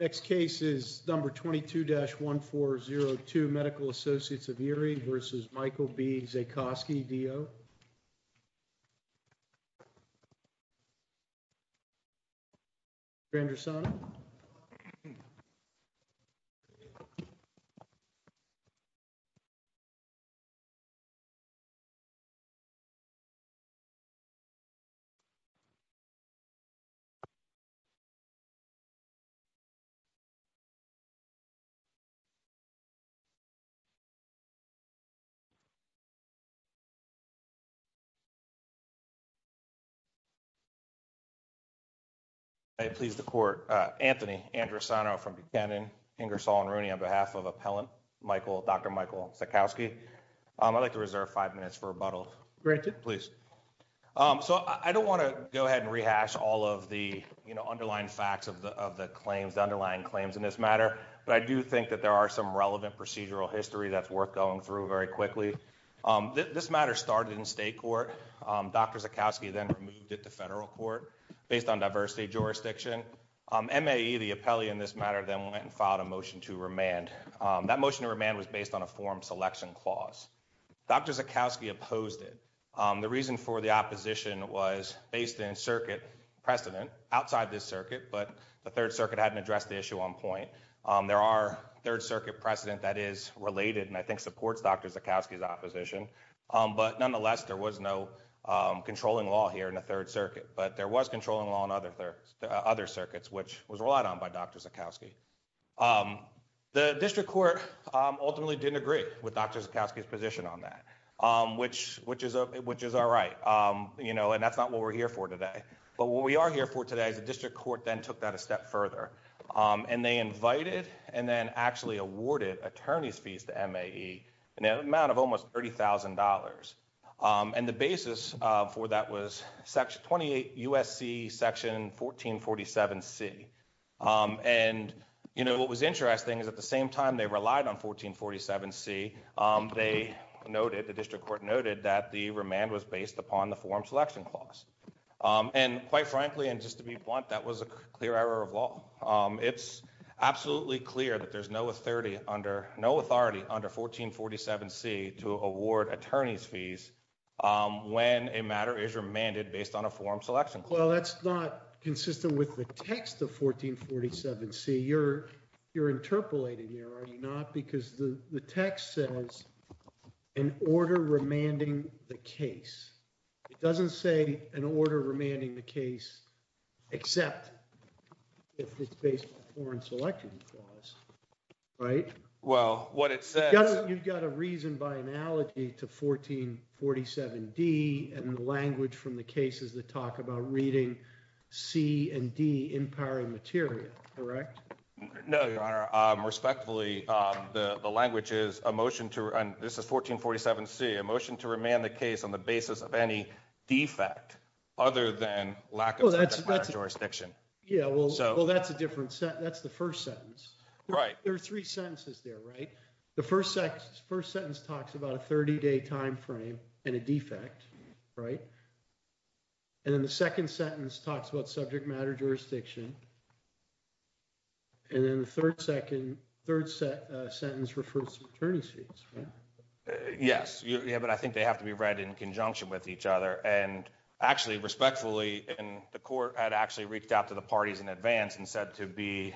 Next case is number 22-1402, Medical Associates of Erie v. Michael B. Zaycosky, D.O. Dr. Andrasano. I please the Court, Anthony Andrasano from Buchanan, Ingersoll and Rooney on behalf of Appellant Michael, Dr. Michael Zaycosky, I'd like to reserve five minutes for rebuttal. Granted. Please. So, I don't want to go ahead and rehash all of the, you know, underlying facts of the claims, the underlying claims in this matter, but I do think that there are some relevant procedural history that's worth going through very quickly. This matter started in state court, Dr. Zaycosky then removed it to federal court based on diversity jurisdiction. M.A.E., the appellee in this matter, then went and filed a motion to remand. That motion to remand was based on a form selection clause. Dr. Zaycosky opposed it. The reason for the opposition was based in circuit precedent outside this circuit, but the Third Circuit hadn't addressed the issue on point. There are Third Circuit precedent that is related and I think supports Dr. Zaycosky's opposition. But nonetheless, there was no controlling law here in the Third Circuit, but there was controlling law in other circuits, which was relied on by Dr. Zaycosky. The district court ultimately didn't agree with Dr. Zaycosky's position on that, which is all right, and that's not what we're here for today. But what we are here for today is the district court then took that a step further, and they invited and then actually awarded attorney's fees to M.A.E. in an amount of almost $30,000. The basis for that was 28 U.S.C. section 1447C, and what was interesting is at the same time they relied on 1447C, they noted, the district court noted, that the remand was based upon the forum selection clause. And quite frankly, and just to be blunt, that was a clear error of law. It's absolutely clear that there's no authority under 1447C to award attorney's fees when a matter is remanded based on a forum selection clause. Well, that's not consistent with the text of 1447C. You're interpolating here, are you not? Because the text says, an order remanding the case. It doesn't say an order remanding the case except if it's based on a forum selection clause, right? Well, what it says— You've got to reason by analogy to 1447D and the language from the cases that talk about reading C and D in power and material, correct? No, Your Honor. Respectfully, the language is, a motion to—and this is 1447C—a motion to remand the case on the basis of any defect other than lack of project manager jurisdiction. Yeah, well, that's a different—that's the first sentence. Right. There are three sentences there, right? The first sentence talks about a 30-day time frame and a defect, right? And then the second sentence talks about subject matter jurisdiction. And then the third sentence refers to attorney's fees, right? Yes. Yeah, but I think they have to be read in conjunction with each other. And actually, respectfully, the Court had actually reached out to the parties in advance and said to be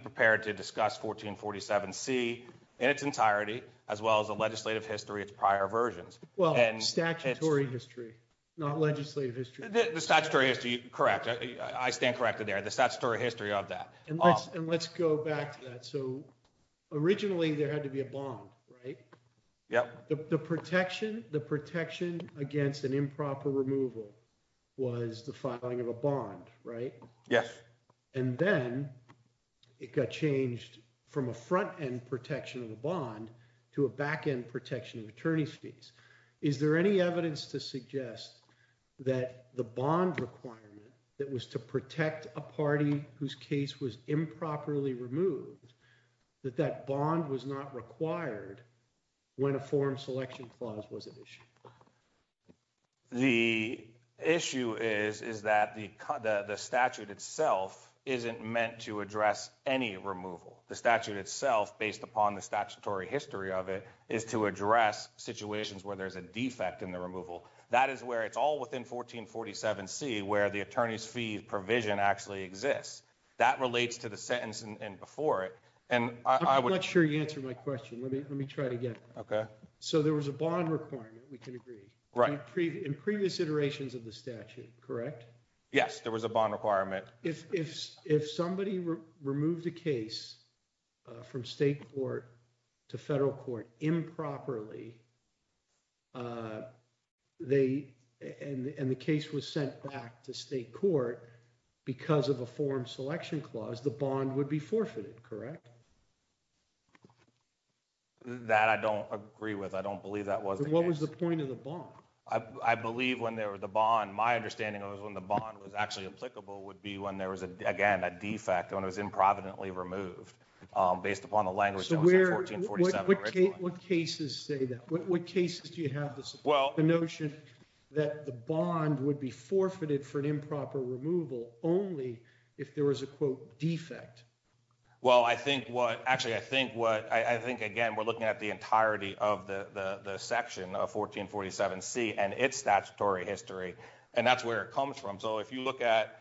prepared to discuss 1447C in its entirety as well as the legislative history of its prior versions. Well, statutory history, not legislative history. The statutory history, correct. I stand corrected there. The statutory history of that. And let's go back to that. So originally there had to be a bond, right? Yep. The protection against an improper removal was the filing of a bond, right? Yes. And then it got changed from a front-end protection of a bond to a back-end protection of attorney's fees. Is there any evidence to suggest that the bond requirement that was to protect a party whose case was improperly removed, that that bond was not required when a form selection clause was at issue? The issue is that the statute itself isn't meant to address any removal. The statute itself, based upon the statutory history of it, is to address situations where there's a defect in the removal. That is where it's all within 1447C where the attorney's fee provision actually exists. That relates to the sentence before it. I'm not sure you answered my question. Let me try it again. Okay. So there was a bond requirement, we can agree. Right. In previous iterations of the statute, correct? Yes, there was a bond requirement. If somebody removed a case from state court to federal court improperly, and the case was sent back to state court because of a form selection clause, the bond would be forfeited, correct? That I don't agree with. I don't believe that was the case. What was the point of the bond? I believe when there was a bond, my understanding was when the bond was actually applicable would be when there was, again, a defect, when it was improvidently removed, based upon the language that was in 1447. What cases say that? What cases do you have to support the notion that the bond would be forfeited for an improper removal only if there was a, quote, defect? Well, I think what, actually, I think what, I think, again, we're looking at the entirety of the section of 1447C and its statutory history, and that's where it comes from. So if you look at,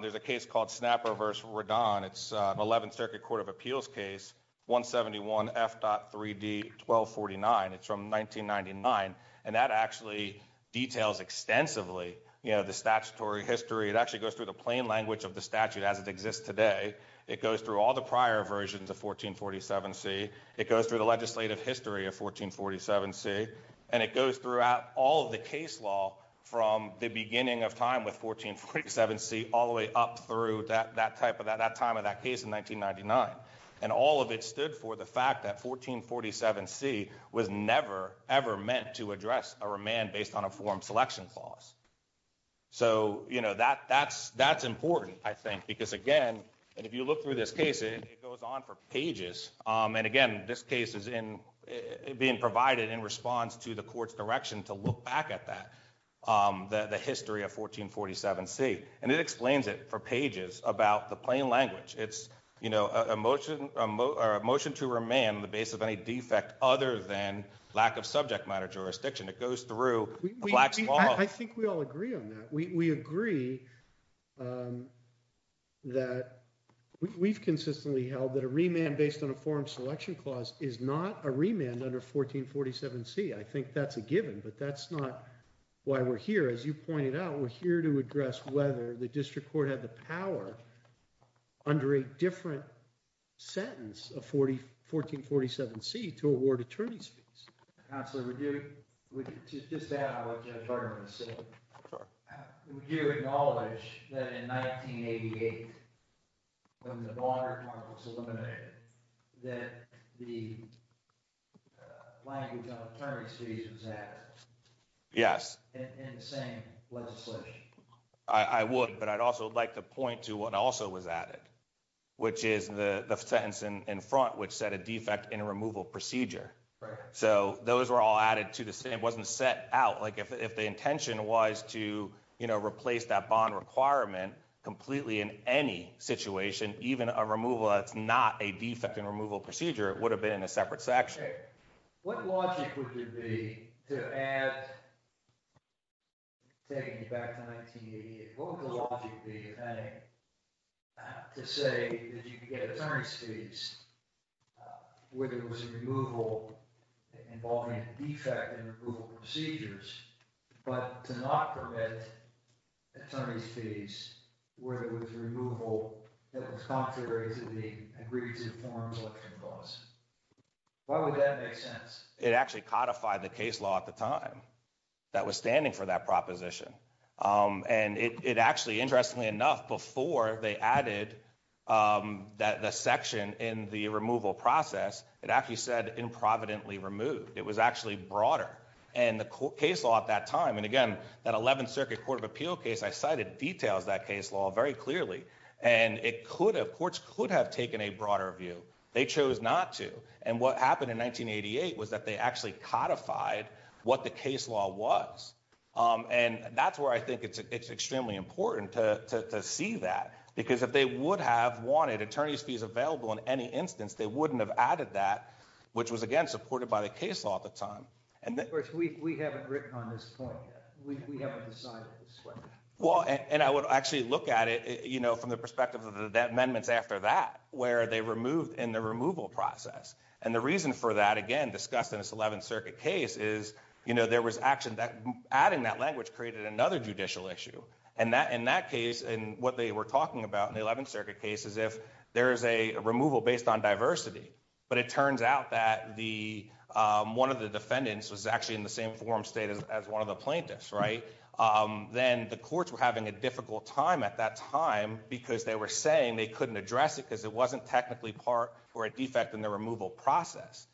there's a case called Snapper v. Redon. It's an 11th Circuit Court of Appeals case, 171 F.3d 1249. It's from 1999, and that actually details extensively, you know, the statutory history. It actually goes through the plain language of the statute as it exists today. It goes through all the prior versions of 1447C. It goes through the legislative history of 1447C, and it goes throughout all of the case law from the beginning of time with 1447C all the way up through that time of that case in 1999, and all of it stood for the fact that 1447C was never, ever meant to address a remand based on a form selection clause. So, you know, that's important, I think, because, again, and if you look through this And, again, this case is being provided in response to the court's direction to look back at that, the history of 1447C, and it explains it for pages about the plain language. It's, you know, a motion to remand the base of any defect other than lack of subject matter jurisdiction. It goes through the Black's Law. I think we all agree on that. We agree that we've consistently held that a remand based on a form selection clause is not a remand under 1447C. I think that's a given, but that's not why we're here. As you pointed out, we're here to address whether the district court had the power under a different sentence of 1447C to award attorney's fees. Counselor, would you, just to add on what Judge Bergman was saying, would you acknowledge that in 1988, when the Bonner Clause was eliminated, that the language on attorney's fees was added? Yes. In the same legislation? I would, but I'd also like to point to what also was added, which is the sentence in front, which said a defect in a removal procedure. Right. So those were all added to the same. It wasn't set out. Like, if the intention was to, you know, replace that bond requirement completely in any situation, even a removal that's not a defect in a removal procedure, it would have been in a separate section. Okay. What logic would it be to add, taking you back to 1988, what would the logic be, if any, to say that you could get attorney's fees, whether it was a removal involving a defect in removal procedures, but to not permit attorney's fees, whether it was a removal that was contrary to the agreed to forms election clause? Why would that make sense? It actually codified the case law at the time that was standing for that proposition. And it, it actually, interestingly enough, before they added that the section in the removal process, it actually said in providently removed, it was actually broader. And the court case law at that time. And again, that 11th circuit court of appeal case I cited details that case law very clearly. And it could have, courts could have taken a broader view. They chose not to. And what happened in 1988 was that they actually codified what the case law was. And that's where I think it's extremely important to see that because if they would have wanted attorney's fees available in any instance, they wouldn't have added that, which was again, supported by the case law at the time. And then we haven't written on this point yet. We haven't decided. Well, and I would actually look at it, you know, from the perspective of the amendments after that, where they removed in the removal process. And the reason for that, again, discussed in this 11th circuit case is, you know, there was action that adding that language created another judicial issue. And that, in that case, and what they were talking about in the 11th circuit cases, if there is a removal based on diversity, but it turns out that the one of the defendants was actually in the same form state as one of the plaintiffs, right? Then the courts were having a difficult time at that time because they were saying they couldn't address it because it wasn't technically part or a defect in the removal process.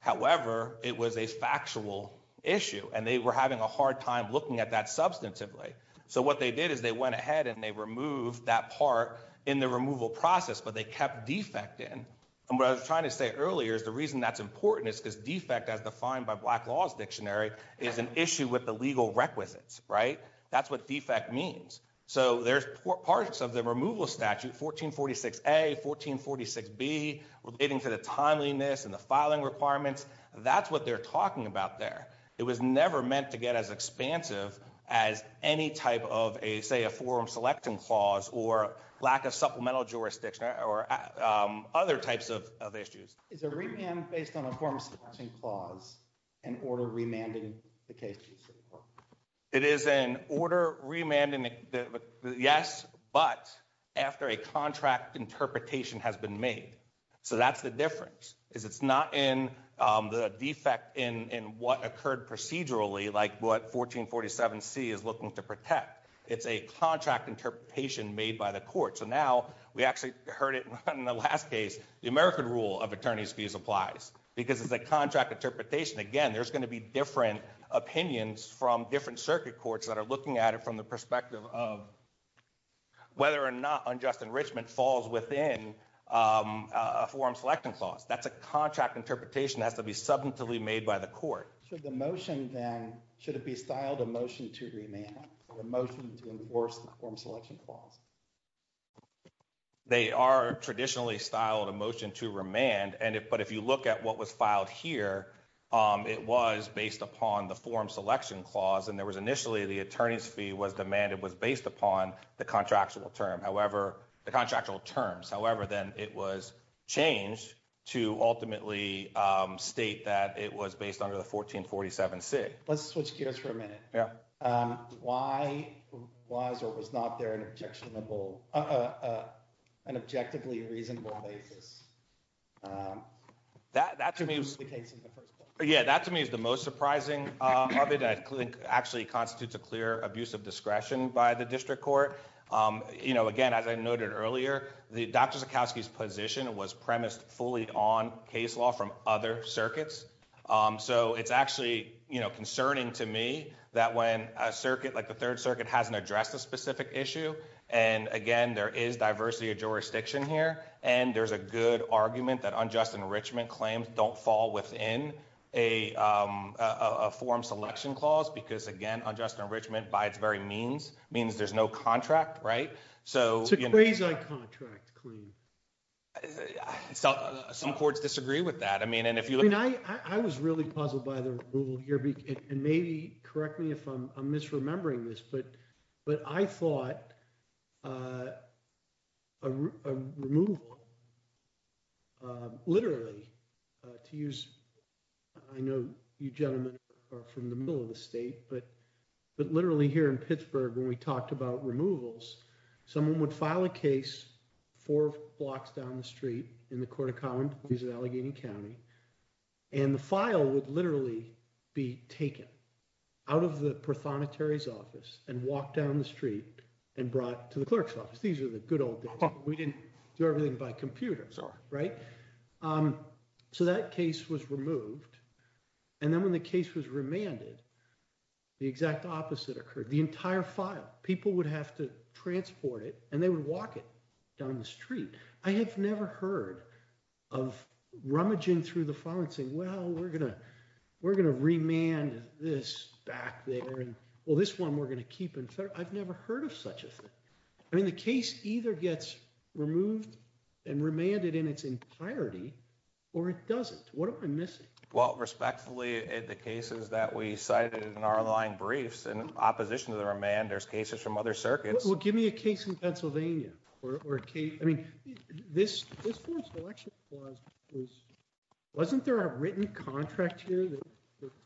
However, it was a factual issue and they were having a hard time looking at that substantively. So what they did is they went ahead and they removed that part in the removal process, but they kept defect in. And what I was trying to say earlier is the reason that's important is because defect as defined by black laws dictionary is an issue with the legal requisites, right? That's what defect means. So there's parts of the removal statute, 1446, a 1446 B relating to the timeliness and the filing requirements. That's what they're talking about there. It was never meant to get as expansive as any type of a, say a forum selection clause or lack of supplemental jurisdiction or other types of issues. Is a remand based on a form of selection clause and order remanding the case? It is an order remanding the yes, but after a contract interpretation has been made. So that's the difference is it's not in the defect in, in what occurred procedurally, like what 1447 C is looking to protect. It's a contract interpretation made by the court. So now we actually heard it in the last case, the American rule of attorneys fees applies because it's a contract interpretation. Again, there's going to be different opinions from different circuit courts that are looking at it from the perspective of whether or not unjust enrichment falls within a forum selection clause. That's a contract interpretation that has to be substantively made by the court. Should the motion then, should it be styled a motion to remand, a motion to enforce the form selection clause? They are traditionally styled a motion to remand. And if, but if you look at what was filed here, it was based upon the forum selection clause. And there was initially the attorney's fee was demanded, was based upon the contractual term. However, the contractual terms, however, then it was changed to ultimately state that it was based under the 1447 C let's switch gears for a minute. Yeah. Why was, or was not there an objectionable, an objectively reasonable basis. That to me was the case in the first place. Yeah, that to me is the most surprising. I think actually constitutes a clear abuse of discretion by the district court. You know, again, as I noted earlier, the Dr. Zukoski's position was premised fully on case law from other circuits. So it's actually, you know, concerning to me that when a circuit like the third circuit hasn't addressed a specific issue. And again, there is diversity of jurisdiction here and there's a good argument that unjust enrichment claims don't fall within. A form selection clause, because again, unjust enrichment by its very means means there's no contract. Right. So. Contract claim. Some courts disagree with that. I mean, and if you look. I was really puzzled by the rule here and maybe correct me if I'm misremembering this, but, but I thought. It was a, a removal. Literally. To use. I know you gentlemen. Are from the middle of the state, but. But literally here in Pittsburgh, when we talked about removals, someone would file a case. Four blocks down the street in the court of common. He's an Allegheny County. And the file would literally. Be taken. Out of the office and walked down the street. And brought to the clerk's office. These are the good old days. We didn't do everything by computers. Right. So that case was removed. And then when the case was remanded. The exact opposite occurred. The entire file. People would have to transport it and they would walk it. Down the street. I have never heard. Of rummaging through the phone and saying, well, we're going to. We're going to remand this back there. Well, this one, we're going to keep it. I've never heard of such a thing. I mean, the case either gets removed. And remanded in its entirety. Or it doesn't, what am I missing? Well, respectfully. The cases that we cited in our line briefs and opposition to the remand. There's cases from other circuits. Well, give me a case in Pennsylvania. I mean, this. Wasn't there a written contract here.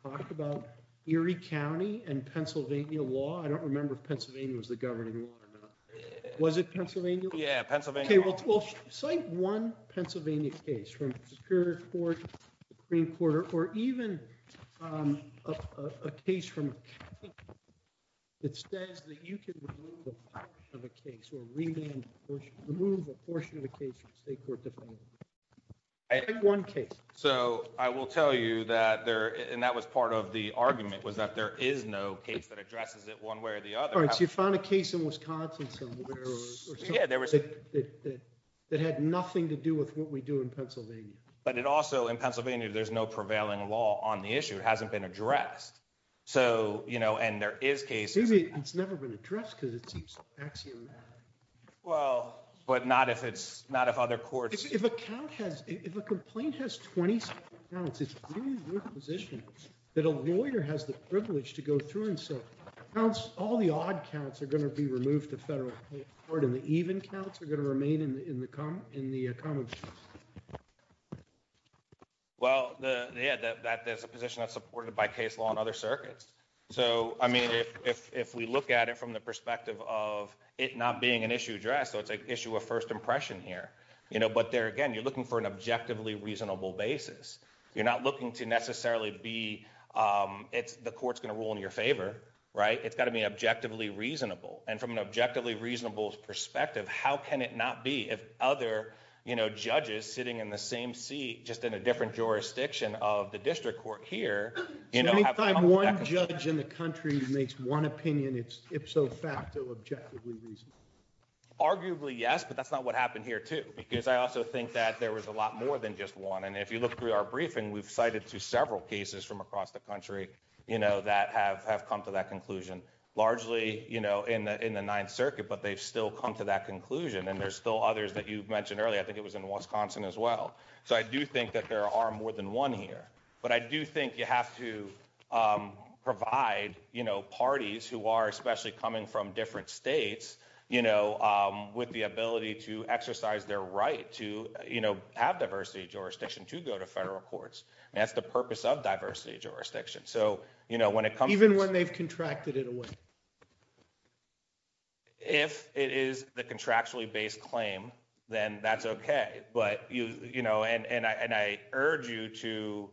Talk about Erie county and Pennsylvania law. I don't remember if Pennsylvania was the governing law. Was it Pennsylvania? Yeah. Okay. Well. One Pennsylvania case from. Supreme court or even. A case from. Okay. It says that you can. Remove a portion of the case. One case. So I will tell you that there, and that was part of the argument was that there is no case that addresses it one way or the other. You found a case in Wisconsin. Yeah, there was. That had nothing to do with what we do in Pennsylvania. But it also in Pennsylvania, there's no prevailing law on the issue. It hasn't been addressed. So, you know, and there is cases. It's never been addressed. Well, but not if it's not, if other courts. If a complaint has 20. Okay. Position that a lawyer has the privilege to go through. And so. All the odd counts are going to be removed to federal court in the case. Okay. So, yeah. So. Yeah. Well, the, the, the, that, that there's a position that's supported by case law and other circuits. So, I mean, if, if, if we look at it from the perspective of it, not being an issue address. So it's like issue of 1st impression here. You know, but there, again, you're looking for an objectively reasonable basis. You're not looking to necessarily be. It's the court's going to rule in your favor. Right. It's gotta be objectively reasonable. And from an objectively reasonable perspective, how can it not be? If other. You know, judges sitting in the same seat, just in a different jurisdiction of the district court here. You know, One judge in the country makes one opinion. It's if so fact to objectively reason. Arguably yes, but that's not what happened here too, because I also think that there was a lot more than just one. And if you look through our briefing, we've cited to several cases from across the country. You know, that have, have come to that conclusion. Largely, you know, in the, in the ninth circuit, but they've still come to that conclusion. And there's still others that you've mentioned earlier. I think it was in Wisconsin as well. So I do think that there are more than one here, but I do think you have to. Provide parties who are especially coming from different states. You know, with the ability to exercise their right to, you know, have diversity jurisdiction to go to federal courts. And that's the purpose of diversity jurisdiction. So, you know, when it comes even when they've contracted it away. If it is the contractually based claim, then that's okay. But, you know, and I urge you to.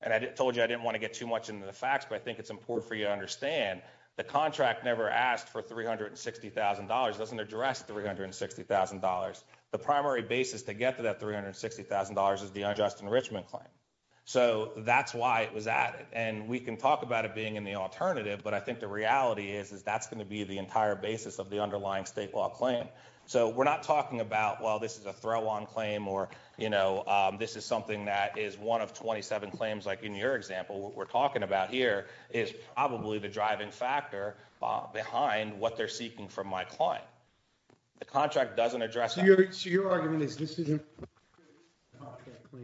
And I told you, I didn't want to get too much into the facts, but I think it's important for you to understand. The contract never asked for $360,000 doesn't address $360,000. The primary basis to get to that $360,000 is the unjust enrichment claim. So that's why it was added. And we can talk about it being in the alternative, but I think the reality is that's going to be the entire basis of the underlying state law claim. So we're not talking about, well, this is a throw on claim or, you know, this is something that is one of 27 claims. Like in your example, what we're talking about here is probably the driving factor behind what they're seeking from my client. The contract doesn't address. So your argument is this isn't.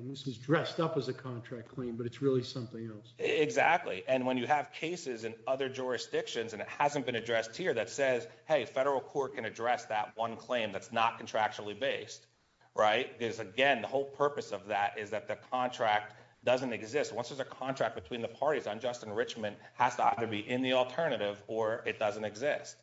This is dressed up as a contract claim, but it's really something else. Exactly. And when you have cases and other jurisdictions, and it hasn't been addressed here that says, hey, federal court can address that one claim. That's not contractually based. Right. Because again, the whole purpose of that is that the contract doesn't exist. Once there's a contract between the parties, unjust enrichment has to either be in the alternative or it doesn't exist.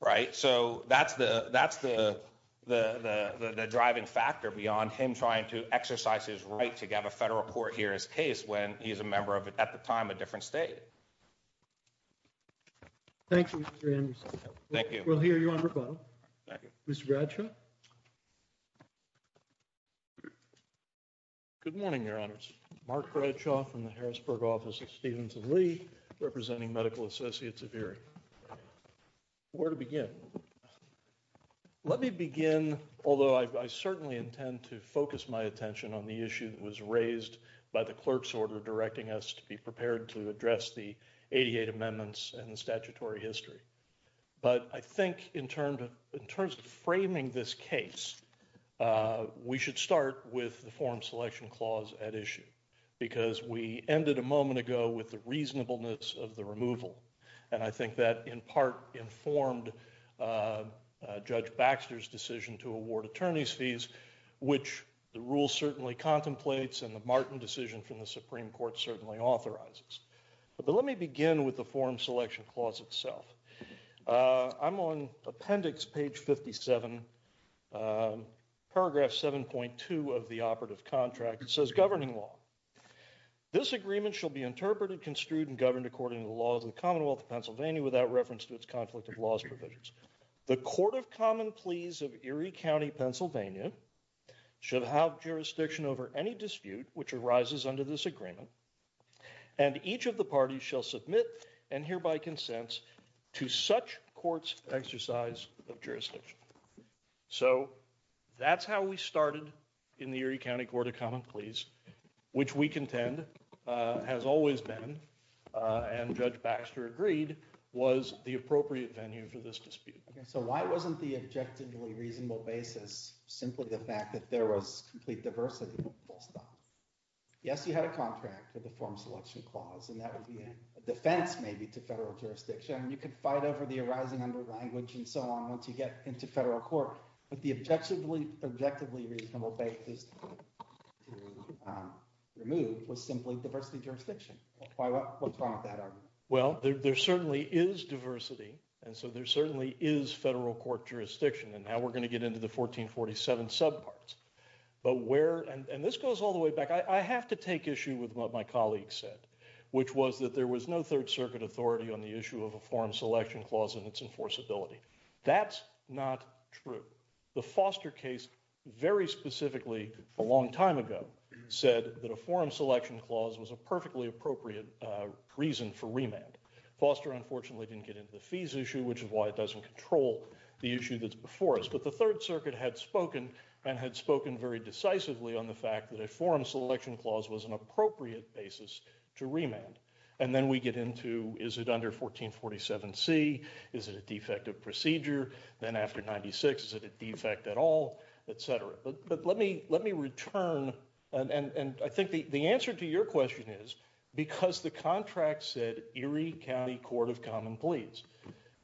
Right. So that's the, that's the, the, the, the driving factor beyond him trying to exercise his right to get a federal court here. His case, when he's a member of it at the time, a different state. Thank you. Thank you. We'll hear you on rebuttal. Thank you, Mr. Bradshaw. Good morning, your honors. Mark from the Harrisburg office of Stevens of Lee representing medical associates of Erie. Where to begin. Let me begin. Although I certainly intend to focus my attention on the issue that was raised by the clerk's order, directing us to be prepared to address the 88 amendments and the statutory history. But I think in terms of, in terms of framing this case, we should start with the form selection clause at issue because we ended a moment ago with the reasonableness of the removal. And I think that in part informed judge Baxter's decision to award attorney's fees, which the rule certainly contemplates and the Martin decision from the Supreme court certainly authorizes. But let me begin with the form selection clause itself. I'm on appendix page 57. Paragraph 7.2 of the operative contract. It says governing law. This agreement shall be interpreted construed and governed according to the laws of the Commonwealth of Pennsylvania without reference to its conflict of laws provisions. The court of common pleas of Erie County, Pennsylvania. Should have jurisdiction over any dispute, which arises under this agreement and each of the parties shall submit and hereby consents to such courts exercise of jurisdiction. So that's how we started in the Erie County court of common pleas, which we contend has always been. And judge Baxter agreed was the appropriate venue for this dispute. So why wasn't the objectively reasonable basis? Simply the fact that there was complete diversity. Yes, you had a contract with the form selection clause, and that would be a defense maybe to federal jurisdiction. You could fight over the arising under language and so on. Once you get into federal court, but the objective, Objectively reasonable basis. Removed was simply diversity jurisdiction. Well, there certainly is diversity. And so there certainly is federal court jurisdiction. And now we're going to get into the 1447 subparts. But where, and this goes all the way back. I have to take issue with what my colleagues said, which was that there was no third circuit authority on the issue of a form selection clause and its enforceability. That's not true. The foster case very specifically a long time ago said that a form selection clause was a perfectly appropriate reason for remand. Foster, unfortunately, didn't get into the fees issue, which is why it doesn't control the issue that's before us. But the third circuit had spoken and had spoken very decisively on the fact that a forum selection clause was an appropriate basis to remand. And then we get into, is it under 1447 C? Is it a defective procedure? Then after 96, is it a defect at all, et cetera. But let me, let me return. And I think the, the answer to your question is because the contract said Erie County court of common pleas.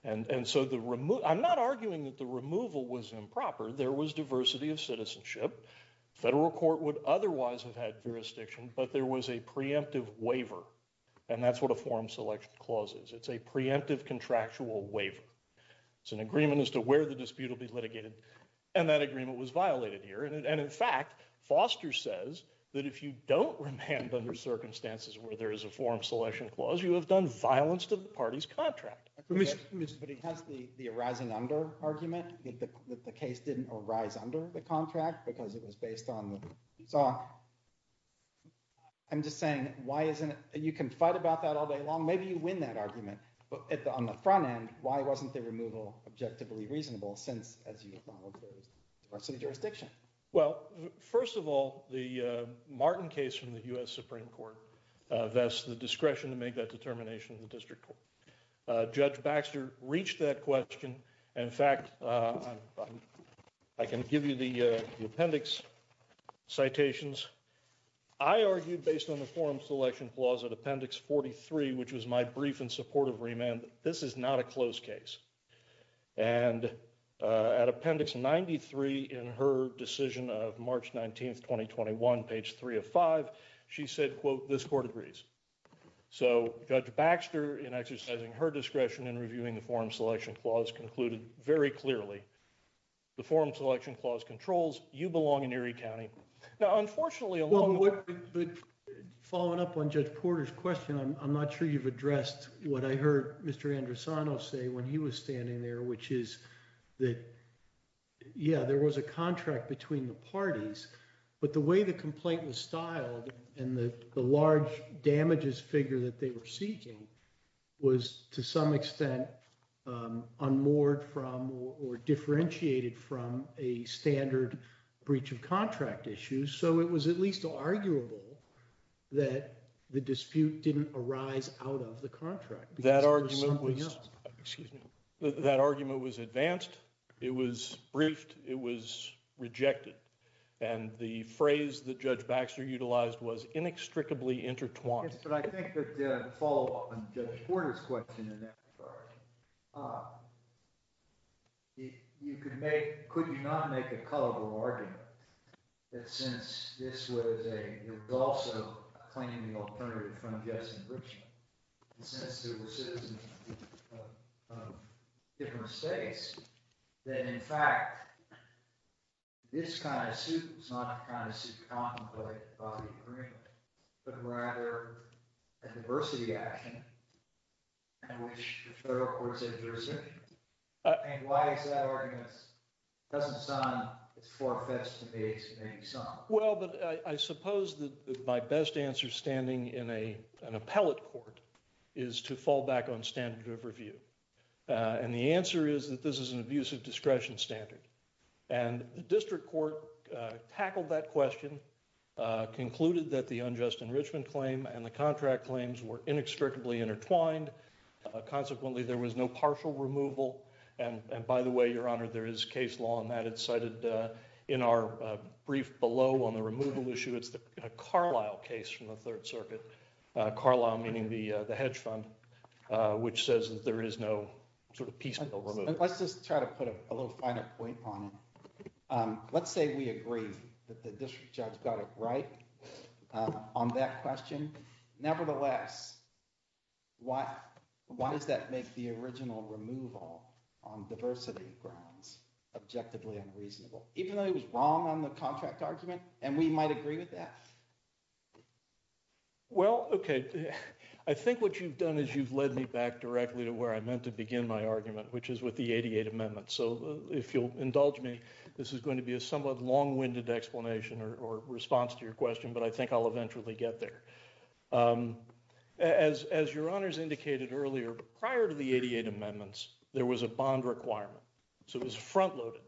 And so the remote, I'm not arguing that the removal was improper. There was diversity of citizenship. Federal court would otherwise have had jurisdiction, but there was a preemptive waiver. And that's what a form selection clauses. It's a preemptive contractual waiver. It's an agreement as to where the dispute will be litigated. And that agreement was violated here. And in fact, Foster says that if you don't remand under circumstances where there is a forum selection clause, you have done violence to the party's contract. Mr. But he has the, the arising under argument. The case didn't arise under the contract because it was based on. I'm just saying, why isn't it, you can fight about that all day long. Maybe you win that argument, but at the, on the front end, why wasn't the removal objectively reasonable since as you followed. Our city jurisdiction. Well, first of all, the Martin case from the U.S. Supreme court, that's the discretion to make that determination. The district judge Baxter reached that question. And in fact, I can give you the appendix. Citations. I argued based on the forum selection clause at appendix 43, which was my brief and supportive remand. This is not a close case. And at appendix 93 in her decision of March 19th, 2021 page three of five, she said, quote, this court agrees. So judge Baxter in exercising her discretion in reviewing the forum selection clause concluded very clearly. The forum selection clause controls you belong in Erie county. Unfortunately, a long way. Following up on judge Porter's question. I'm not sure you've addressed what I heard. Mr. Andresano say when he was standing there, which is that. Yeah, there was a contract between the parties, but the way the complaint was styled and the large damages figure that they were seeking. Was to some extent on more from, or differentiated from a standard breach of contract issues. So it was at least arguable that the dispute didn't arise out of the contract. That argument was, excuse me. That argument was advanced. It was briefed. It was rejected. And the phrase that judge Baxter utilized was inextricably intertwined. But I think that the follow up on judge Porter's question in that. You could make, could you not make a colorful argument? That since this was a, it was also claiming the alternative from just enrichment. And since there were citizens of different states, that in fact this kind of suit is not a kind of suit contemplated by the agreement, but rather a diversity action. And which the federal courts have jurisdiction. And why is that argument? It doesn't sound it's farfetched to me. Well, but I suppose that my best answer standing in a, an appellate court is to fall back on standard of review. And the answer is that this is an abusive discretion standard. And the district court tackled that question, concluded that the unjust enrichment claim and the contract claims were inextricably intertwined. Consequently there was no partial removal. And by the way, your honor there is case law on that it's cited in our brief below on the removal issue. It's the Carlyle case from the third circuit. Carlyle meaning the, the hedge fund which says that there is no sort of piece. Let's just try to put a little finer point on it. Let's say we agree that the district judge got it right on that question. Nevertheless, why, why does that make the original removal on diversity grounds objectively unreasonable, even though he was wrong on the contract argument and we might agree with that. Well, okay. I think what you've done is you've led me back directly to where I meant to begin my argument, which is with the 88 amendments. So if you'll indulge me, this is going to be a somewhat long winded explanation or response to your question, but I think I'll eventually get there. As, as your honors indicated earlier, prior to the 88 amendments, there was a bond requirement. So it was front loaded,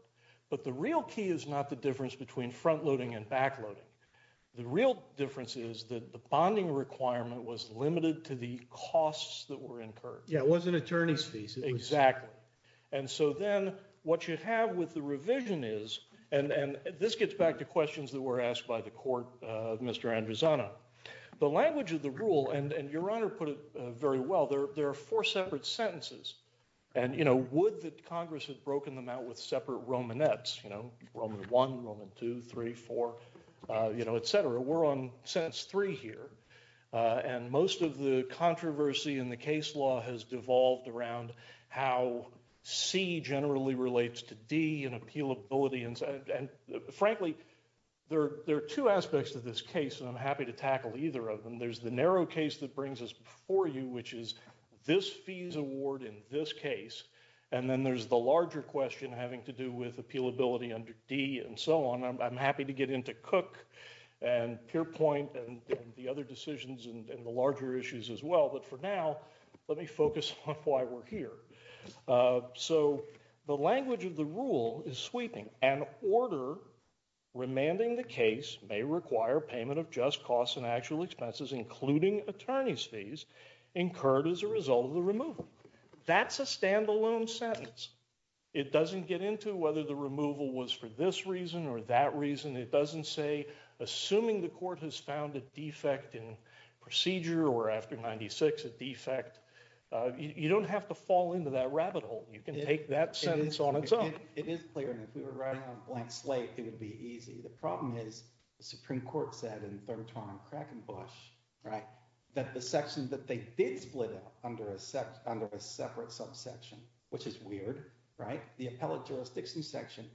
but the real key is not the difference between front loading and back loading. The real difference is that the bonding requirement was limited to the costs that were incurred. Yeah, it wasn't attorney's fees. Exactly. And so then what you have with the revision is, and this gets back to questions that were asked by the court, Mr. Andrews, Anna, the language of the rule and your honor put it very well. There are four separate sentences and, you know, would that Congress had broken them out with separate Roman Nets, you know, Roman one, Roman two, three, four, you know, et cetera. We're on sentence three here. And most of the controversy in the case law has devolved around how C generally relates to D and appeal ability. And frankly, there are two aspects to this case and I'm happy to tackle either of them. There's the narrow case that brings us before you, which is this fees award in this case. And then there's the larger question having to do with appeal ability under D and so on. I'm happy to get into cook and peer point and the other decisions and the larger issues as well. But for now, let me focus on why we're here. So the language of the rule is sweeping and order. Remanding the case may require payment of just costs and actual expenses, including attorney's fees incurred as a result of the removal. That's a standalone sentence. It doesn't get into whether the removal was for this reason or that reason. It doesn't say, assuming the court has found a defect in procedure or after 96, a defect, you don't have to fall into that rabbit hole. You can take that sentence on its own. It is clear. And if we were writing on a blank slate, it would be easy. The problem is the Supreme court said in third time cracking Bush, right? That the section that they did split up under a set under a separate subsection, which is weird, right? The appellate jurisdiction section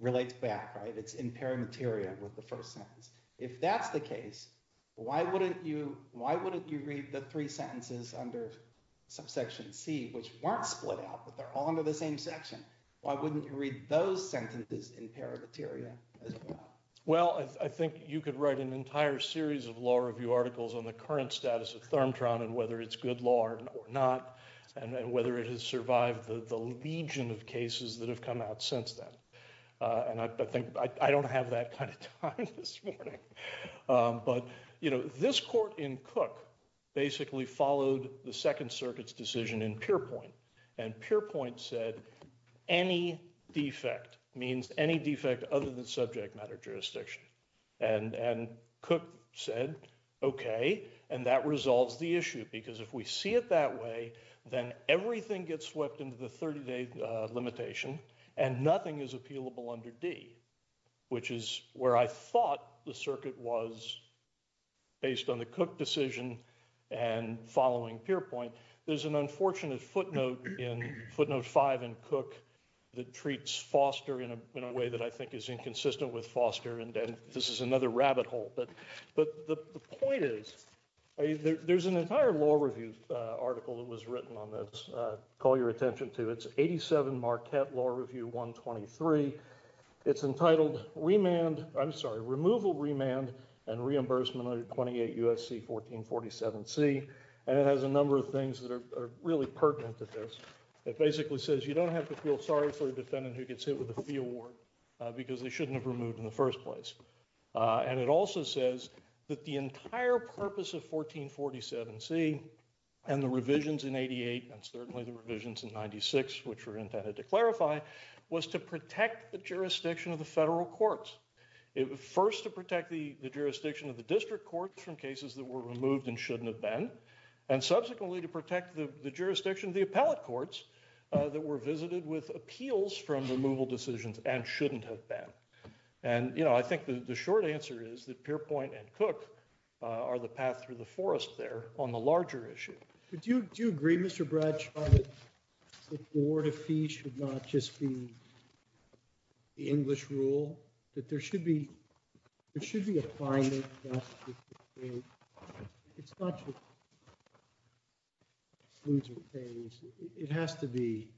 relates back, right? It's in pair material with the first sentence. If that's the case, why wouldn't you, why wouldn't you read the three sentences under subsection C, which weren't split out, but they're all under the same section. Why wouldn't you read those sentences in pair of material as well? Well, I think you could write an entire series of law review articles on the current status of thermotron and whether it's good law or not, and whether it has survived the legion of cases that have come out since that. And I think I don't have that kind of time this morning, but, you know, this court in cook basically followed the second circuits decision in pure point. And pure point said, any defect means any defect other than subject matter jurisdiction. And, and cook said, okay, and that resolves the issue because if we see it that way, then everything gets swept into the 30 day limitation and nothing is appealable under D, which is where I thought the circuit was based on the cook decision and following pure point. There's an unfortunate footnote in footnote five and cook that treats foster in a, in a way that I think is inconsistent with foster. And then this is another rabbit hole, but, but the point is there's an entire law review article that was written on this. Call your attention to it's 87 Marquette law review, one 23. It's entitled remand. I'm sorry, removal, remand and reimbursement under 28 USC, 1447 C. And it has a number of things that are really pertinent to this. It basically says you don't have to feel sorry for a defendant who gets hit with a fee award because they shouldn't have removed in the first place. And it also says that the entire purpose of 1447 C and the revisions in 88 and certainly the revisions in 96, which were intended to clarify was to protect the jurisdiction of the federal courts. It was first to protect the, the jurisdiction of the district courts from cases that were removed and shouldn't have been. And subsequently to protect the, the jurisdiction of the appellate courts that were visited with appeals from removal decisions and shouldn't have been. And, you know, I think the short answer is that pure point and cook are the path through the forest there on the larger issue. Do you, do you agree, Mr. Brad, the board of fees should not just be. The English rule that there should be, there should be a fine. It's not. It has to be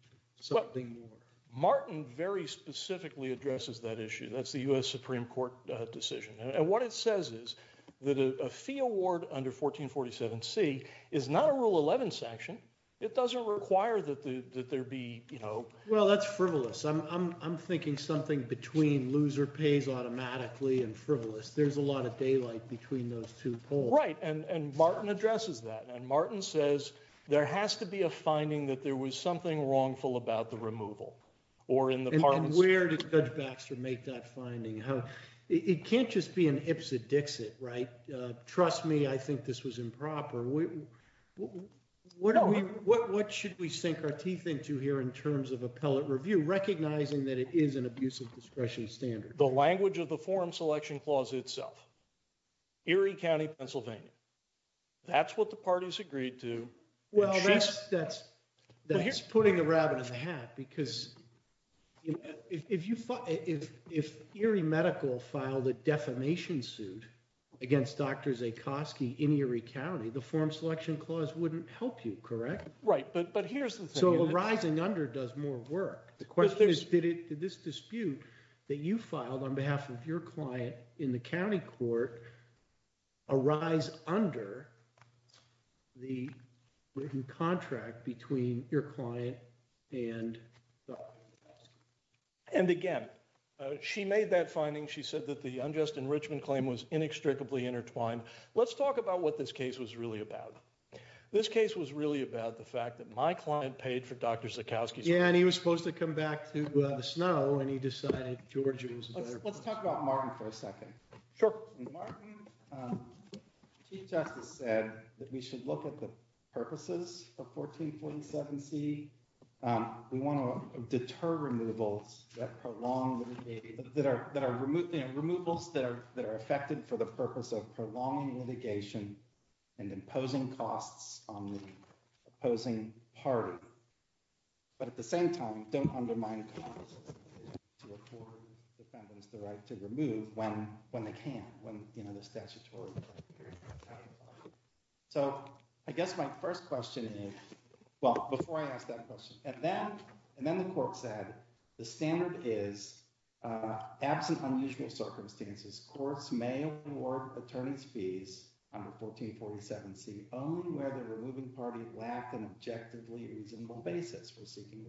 something more. Martin very specifically addresses that issue. That's the U S Supreme court decision. And what it says is that a fee award under 1447 C is not a rule 11 section. It doesn't require that the, that there be, you know, well, that's frivolous. I'm, I'm, I'm thinking something between loser pays automatically and frivolous. There's a lot of daylight between those two. Right. And, and Martin addresses that. And Martin says, there has to be a finding that there was something wrongful about the removal. Or in the, where did judge Baxter make that finding? How it can't just be an IPSA Dixit, right? Trust me. I think this was improper. What are we, what, what should we sink our teeth into here in terms of appellate review, recognizing that it is an abusive discretion standard, the language of the forum selection clause itself, Erie County, Pennsylvania. That's what the parties agreed to. Well, that's, that's, that's putting a rabbit in the hat because if you, if, if, if Erie medical filed a defamation suit against doctors, a Kosky in Erie County, the form selection clause wouldn't help you. Correct. Right. But, but here's the thing. Rising under does more work. The question is, did it, did this dispute that you filed on behalf of your client in the county court arise under the written contract between your client and. And again, she made that finding. She said that the unjust enrichment claim was inextricably intertwined. Let's talk about what this case was really about. This case was really about the fact that my client paid for Dr. Kosky. Yeah. And he was supposed to come back to us. No. And he decided Georgia was, let's talk about Martin for a second. Sure. Martin. Chief justice said that we should look at the purposes of 1447. See, we want to deter removals that prolong that are, that are removed, the removals that are, that are affected for the purpose of prolonging litigation and imposing costs on the opposing party. But at the same time, don't undermine the right to remove when, when they can, when the statutory. So I guess my first question is, well, before I ask that question and then, and then the court said the standard is absent, unusual circumstances. Courts may award attorneys fees under 1447 C only where the removing party lacked an objectively reasonable basis for seeking.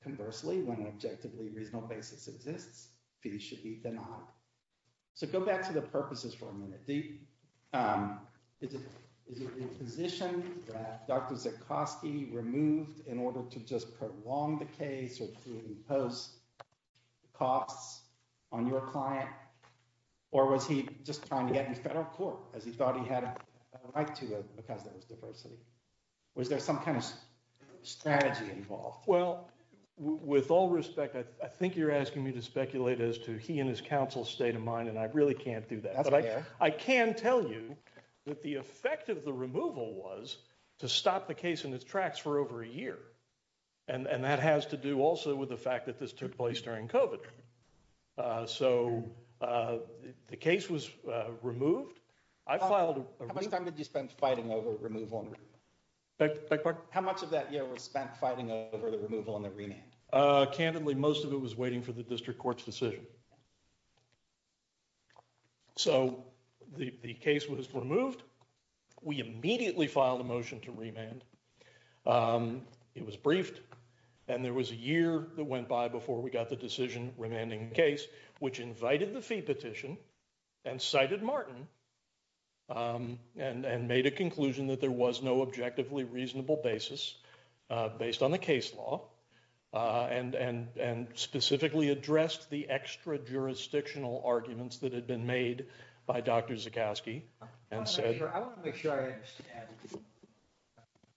Conversely, when an objectively reasonable basis exists, fees should be denied. So go back to the purposes for a minute. Is it, is it a position that Dr. Zekowski removed in order to just prolong the case or to impose costs on your client? Or was he just trying to get in federal court as he thought he had a right to it because there was diversity. Was there some kind of strategy involved? Well, with all respect, I think you're asking me to speculate as to he and his counsel state of mind. And I really can't do that, but I can tell you that the effect of the removal was to stop the case in its tracks for over a year. And that has to do also with the fact that this took place during COVID. So the case was removed. I filed. How much time did you spend fighting over removal? How much of that year was spent fighting over the removal and the remand? Candidly, most of it was waiting for the district court's decision. So the case was removed. We immediately filed a motion to remand. It was briefed and there was a year that went by before we got the decision remanding case, which invited the fee petition and cited Martin. And, and made a conclusion that there was no objectively reasonable basis based on the case law. And, and, and specifically addressed the extra jurisdictional arguments that had been made by Dr. Zukoski and said, I want to make sure I understand.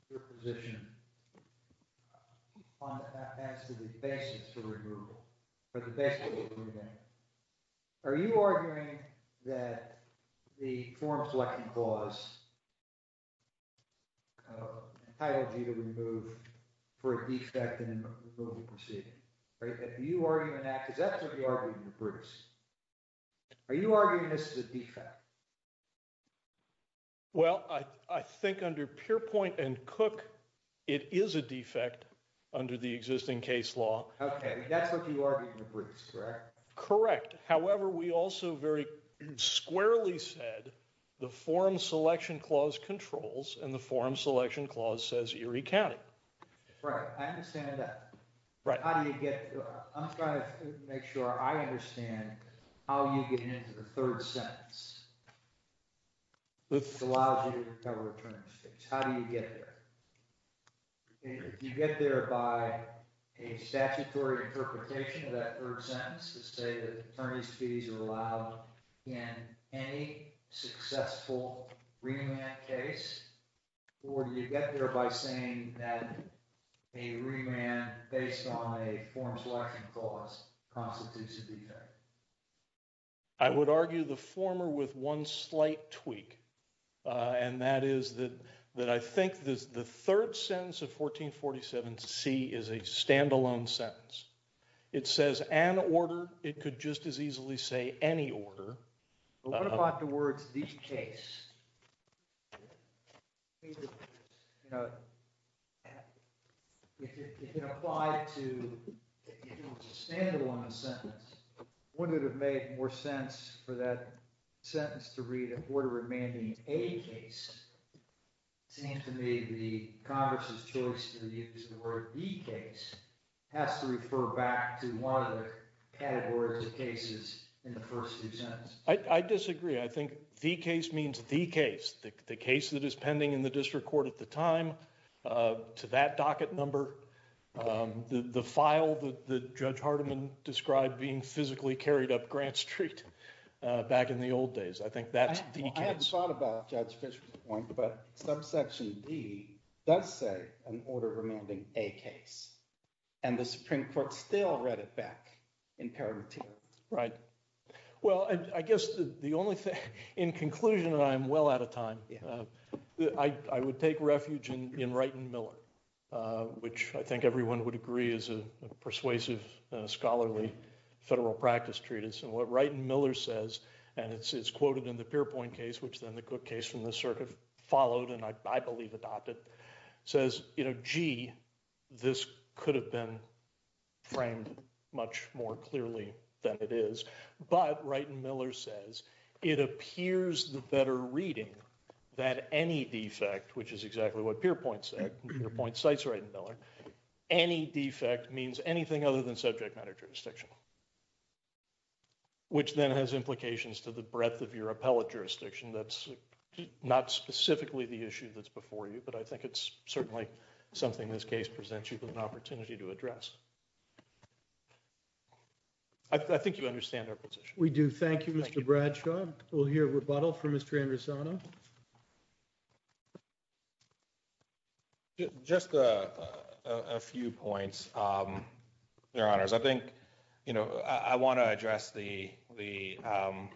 Your position. On that, that's the basis for removal for the best. Are you arguing that the form selection clause. I don't need to remove for a defect. Right. That you are. Cause that's what you are. Are you arguing this is a defect? Well, I think under pure point and cook, it is a defect under the existing case law. Okay. That's what you are. Correct. Correct. However, we also very squarely said the forum selection clause controls and the forum selection clause says Erie County. Right. I understand that. Right. How do you get, I'm trying to make sure I understand how you get into the third sentence. This allows you to recover attorney's fees. How do you get there? You get there by a statutory interpretation of that third sentence to say that attorney's fees are allowed in any successful remand case, or you get there by saying that a remand based on a form selection clause constitutes a defect. I would argue the former with one slight tweak. And that is that, that I think this, the third sentence of 1447 C is a standalone sentence. It says an order. It could just as easily say any order. What about the words? These case? You know, if you apply it to a standalone sentence, what would have made more sense for that sentence to read a border remanding a case? To me, the Congress has chosen to use the word the case has to refer back to one of the categories of cases in the first few sentences. I disagree. I think the case means the case, the case that is pending in the district court at the time to that docket number, the file, the judge Hardiman described being physically carried up Grant street back in the old days. I think that's the case. I haven't thought about judge Fisher's point, but subsection D does say an order remanding a case and the Supreme Court still read it back imperative. Right? Well, I guess the only thing in conclusion, and I'm well out of time, I would take refuge in, in right and Miller, which I think everyone would agree is a persuasive scholarly federal practice treatise. And what right and Miller says, and it's, it's quoted in the peer point case, which then the cook case from the circuit followed. And I, I believe adopted says, you know, gee, this could have been framed much more clearly than it is. But right. And Miller says, it appears the better reading that any defect, which is exactly what peer points at your point sites, right? And Miller, any defect means anything other than subject matter jurisdiction, which then has implications to the breadth of your appellate jurisdiction. That's not specifically the issue that's before you, but I think it's certainly something this case presents you with an opportunity to address. I think you understand our position. We do. Thank you, Mr. Bradshaw. We'll hear rebuttal from Mr. Anderson. Just a few points. Your honors. I think, you know, I want to address the, the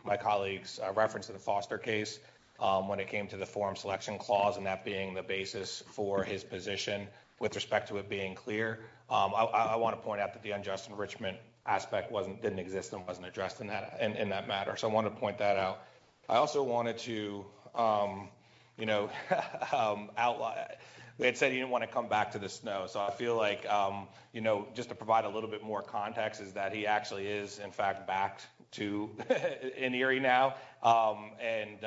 my colleagues reference to the foster case when it came to the form selection clause and that being the basis for his position with respect to it being clear. I want to point out that the unjust enrichment aspect wasn't, didn't exist and wasn't addressed in that, in that matter. So I want to point that out. I also wanted to, you know, outline, we had said, you didn't want to come back to this. No. So I feel like, you know, just to provide a little bit more context is that he actually is in fact backed to an area now. And,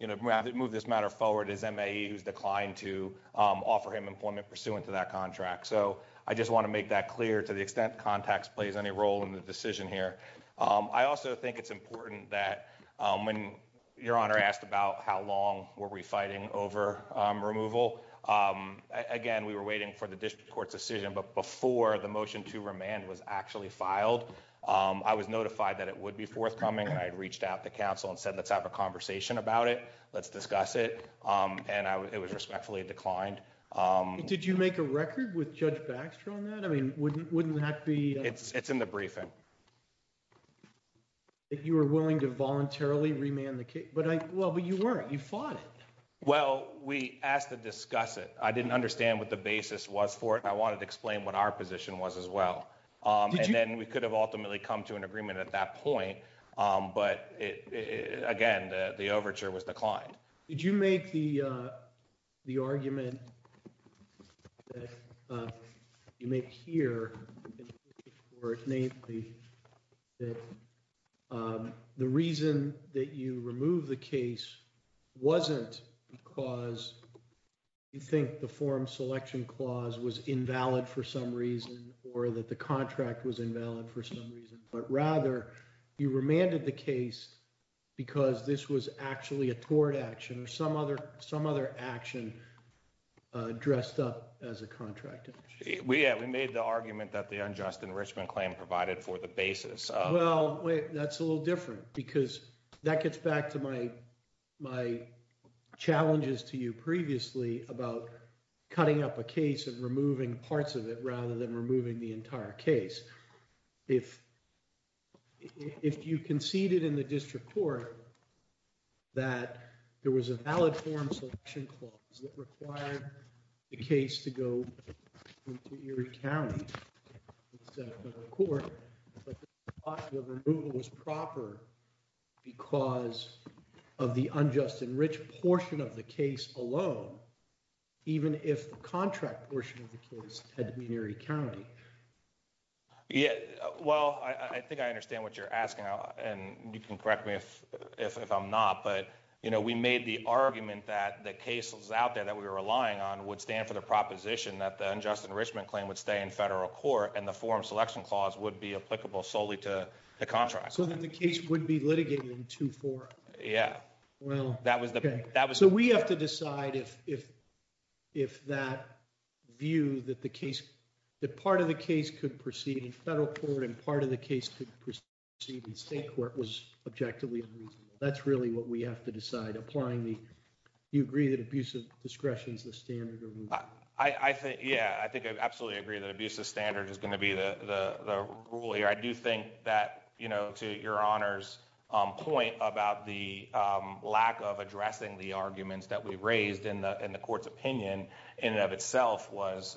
you know, we have to move this matter forward. His MA who's declined to offer him employment pursuant to that contract. So I just want to make that clear to the extent context plays any role in the decision here. I also think it's important that when your honor asked about how long were we fighting over removal. Again, we were waiting for the district court's decision, but before the motion to remand was actually filed, I was notified that it would be forthcoming. I had reached out to counsel and said, let's have a conversation about it. Let's discuss it. And I was, it was respectfully declined. Did you make a record with judge Baxter on that? I mean, wouldn't wouldn't have to be it's it's in the briefing. If you were willing to voluntarily remand the case, but I, well, but you weren't, you fought it. Well, we asked to discuss it. I didn't understand what the basis was for it. I wanted to explain what our position was as well. And then we could have ultimately come to an agreement at that point. But it, again, the, the overture was declined. Did you make the, The argument. You may hear. The reason that you remove the case wasn't because you think the form selection clause was invalid for some reason, or that the contract was invalid for some reason, but rather you remanded the case. Because this was actually a tort action or some other, some other action. Dressed up as a contract. We, we made the argument that the unjust enrichment claim provided for the basis. Well, wait, that's a little different because that gets back to my, my. Challenges to you previously about cutting up a case and removing parts of it, rather than removing the entire case. If. If you conceded in the district court. That there was a valid form selection clause that required the case to go. To Erie County. Court. Was proper. Because of the unjust and rich portion of the case alone. Even if the contract portion of the case had to be in Erie County. Yeah. Well, I think I understand what you're asking. And you can correct me if, if I'm not, but, you know, we made the argument that the cases out there that we were relying on would stand for the proposition that the unjust enrichment claim would stay in federal court. And the form selection clause would be applicable solely to the contract. So that the case would be litigated in two, four. Yeah. Well, that was the, that was, so we have to decide if, if, if that. View that the case. That part of the case could proceed in federal court and part of the case could proceed in state court was objectively unreasonable. That's really what we have to decide. Applying the, you agree that abuse of discretion is the standard. I think, yeah, I think I absolutely agree that abuse of standard is going to be the, the, the rule here. I do think that, you know, to your honors point about the lack of addressing the arguments that we raised in the, in the court's opinion in and of itself was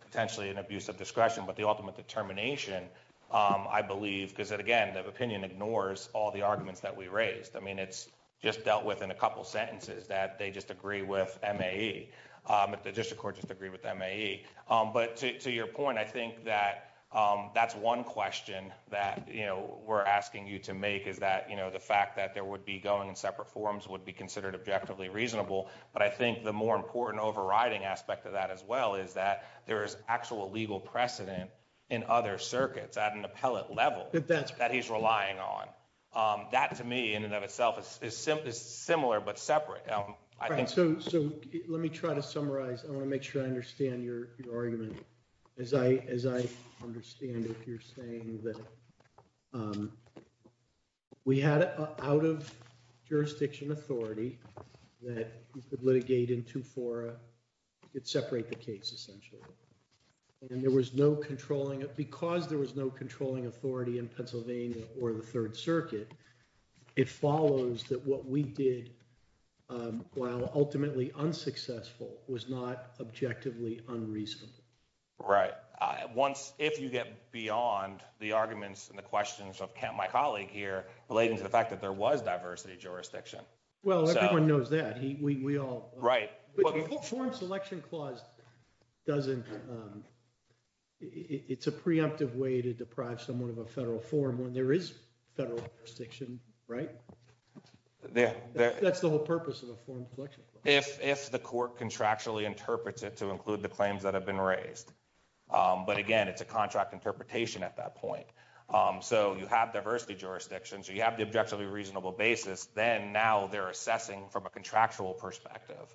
potentially an abuse of discretion, but the ultimate determination. I believe, because it, again, the opinion ignores all the arguments that we raised. I mean, it's just dealt with in a couple sentences that they just agree with. But the district court just agree with me. But to your point, I think that that's 1 question that, you know, we're asking you to make is that, you know, the fact that there would be going in separate forms would be considered objectively reasonable. But I think the more important overriding aspect of that as well is that there is actual legal precedent. In other circuits at an appellate level, that he's relying on that to me in and of itself is, is similar, but separate. I think so. So let me try to summarize. I want to make sure I understand your argument. As I, as I understand it, you're saying that. We had out of jurisdiction authority that you could litigate in two fora. It separate the case, essentially. And there was no controlling it because there was no controlling authority in Pennsylvania or the 3rd circuit. It follows that what we did. Well, ultimately unsuccessful was not objectively unreasonable. Right. Once if you get beyond the arguments and the questions of my colleague here, relating to the fact that there was diversity jurisdiction. Well, everyone knows that he, we all right. Form selection clause. Doesn't. It's a preemptive way to deprive someone of a federal form when there is federal section, right? Yeah, that's the whole purpose of a form. If the court contractually interpret it to include the claims that have been raised. But again, it's a contract interpretation at that point. So you have diversity jurisdictions. You have the objectively reasonable basis. Then now they're assessing from a contractual perspective.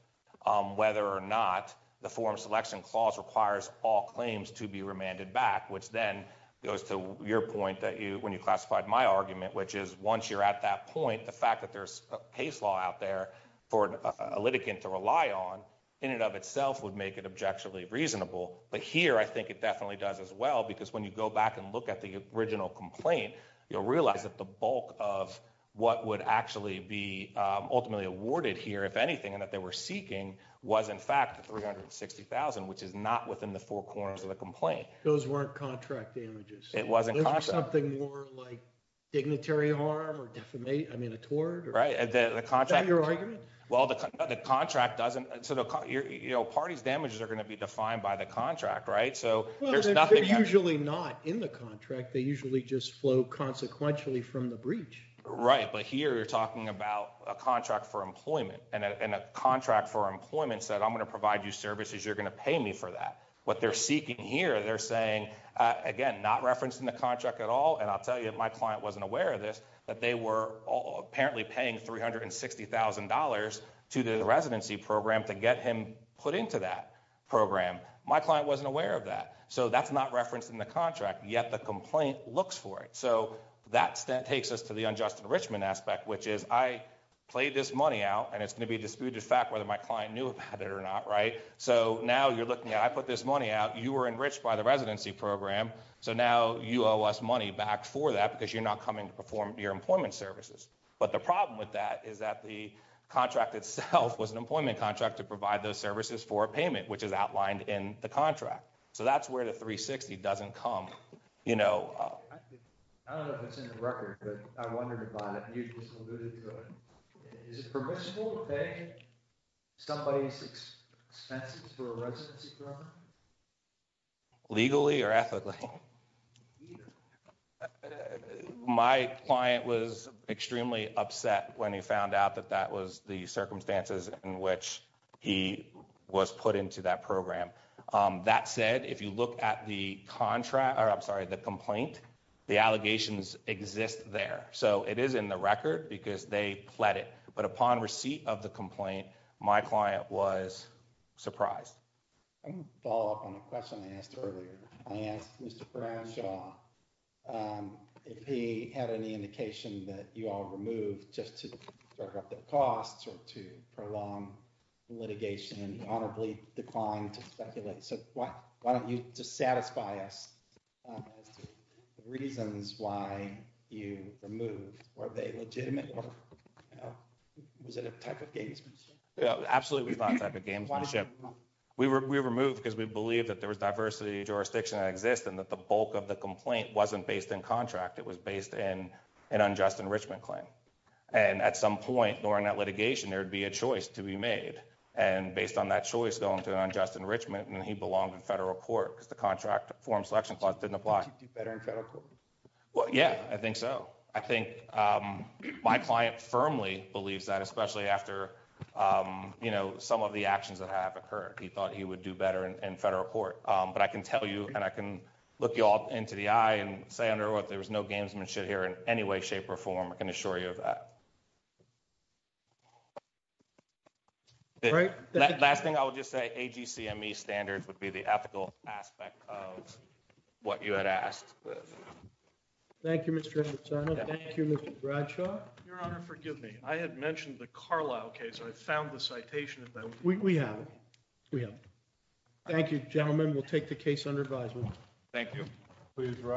Whether or not the form selection clause requires all claims to be remanded back, which then goes to your point that you, when you classified my argument, which is once you're at that point, the fact that there's a case law out there for a litigant to rely on in and of itself would make it objectively reasonable. But here, I think it definitely does as well, because when you go back and look at the original complaint, you'll realize that the bulk of what would actually be ultimately awarded here, if anything, and that they were seeking was in fact, 360,000, which is not within the four corners of the complaint. Those weren't contract damages. It wasn't something more like dignitary harm or defamation. I mean, a tour, right? The contract, your argument. Well, the contract doesn't sort of, you know, parties damages are going to be defined by the contract, right? So there's nothing usually not in the contract. They usually just flow consequentially from the breach. Right. But here you're talking about a contract for employment and a contract for employment said, I'm going to provide you services. You're going to pay me for that. What they're seeking here. They're saying, again, not referencing the contract at all. And I'll tell you that my client wasn't aware of this, that they were apparently paying $360,000 to the residency program to get him put into that program. My client wasn't aware of that. So that's not referenced in the contract yet. The complaint looks for it. So that takes us to the unjust enrichment aspect, which is I played this money out and it's going to be disputed fact, whether my client knew about it or not. Right. So now you're looking at, I put this money out, you were enriched by the residency program. So now you owe us money back for that because you're not coming to perform your employment services. But the problem with that is that the contract itself was an employment contract to provide those services for a payment, which is outlined in the contract. So that's where the 360 doesn't come. You know, I don't know if it's in the record, but I wondered about it and you just alluded to it. Is it permissible to pay somebody's expenses for a residency program? Legally or ethically? Either. My client was extremely upset when he found out that that was the circumstances in which he was put into that program. That said, if you look at the contract, or I'm sorry, the complaint, the allegations exist there. So it is in the record because they pled it. But upon receipt of the complaint, my client was surprised. Follow up on a question I asked earlier. I asked Mr. Brownshaw. If he had any indication that you all removed just to start up the costs or to prolong litigation, honorably declined to speculate. So what, why don't you just satisfy us? The reasons why you removed, are they legitimate? Was it a type of games? Yeah, absolutely. We were, we were moved because we believe that there was diversity jurisdiction that exists and that the bulk of the complaint wasn't based in contract. It was based in an unjust enrichment claim. And at some point during that litigation, there'd be a choice to be made. And based on that choice, going to an unjust enrichment. And then he belonged to federal court because the contract form selection clause didn't apply. Well, yeah, I think so. I think my client firmly believes that especially after, you know, some of the actions that have occurred, he thought he would do better in federal court. But I can tell you, and I can look you all into the eye and say, under what there was no gamesmanship here in any way, shape or form. I can assure you of that. Right. Last thing I would just say, AGCME standards would be the ethical aspect of what you had asked. Thank you, Mr. Bradshaw. Your honor, forgive me. I had mentioned the Carlisle case. I found the citation. We have, we have. Thank you gentlemen. We'll take the case under advisement. Thank you.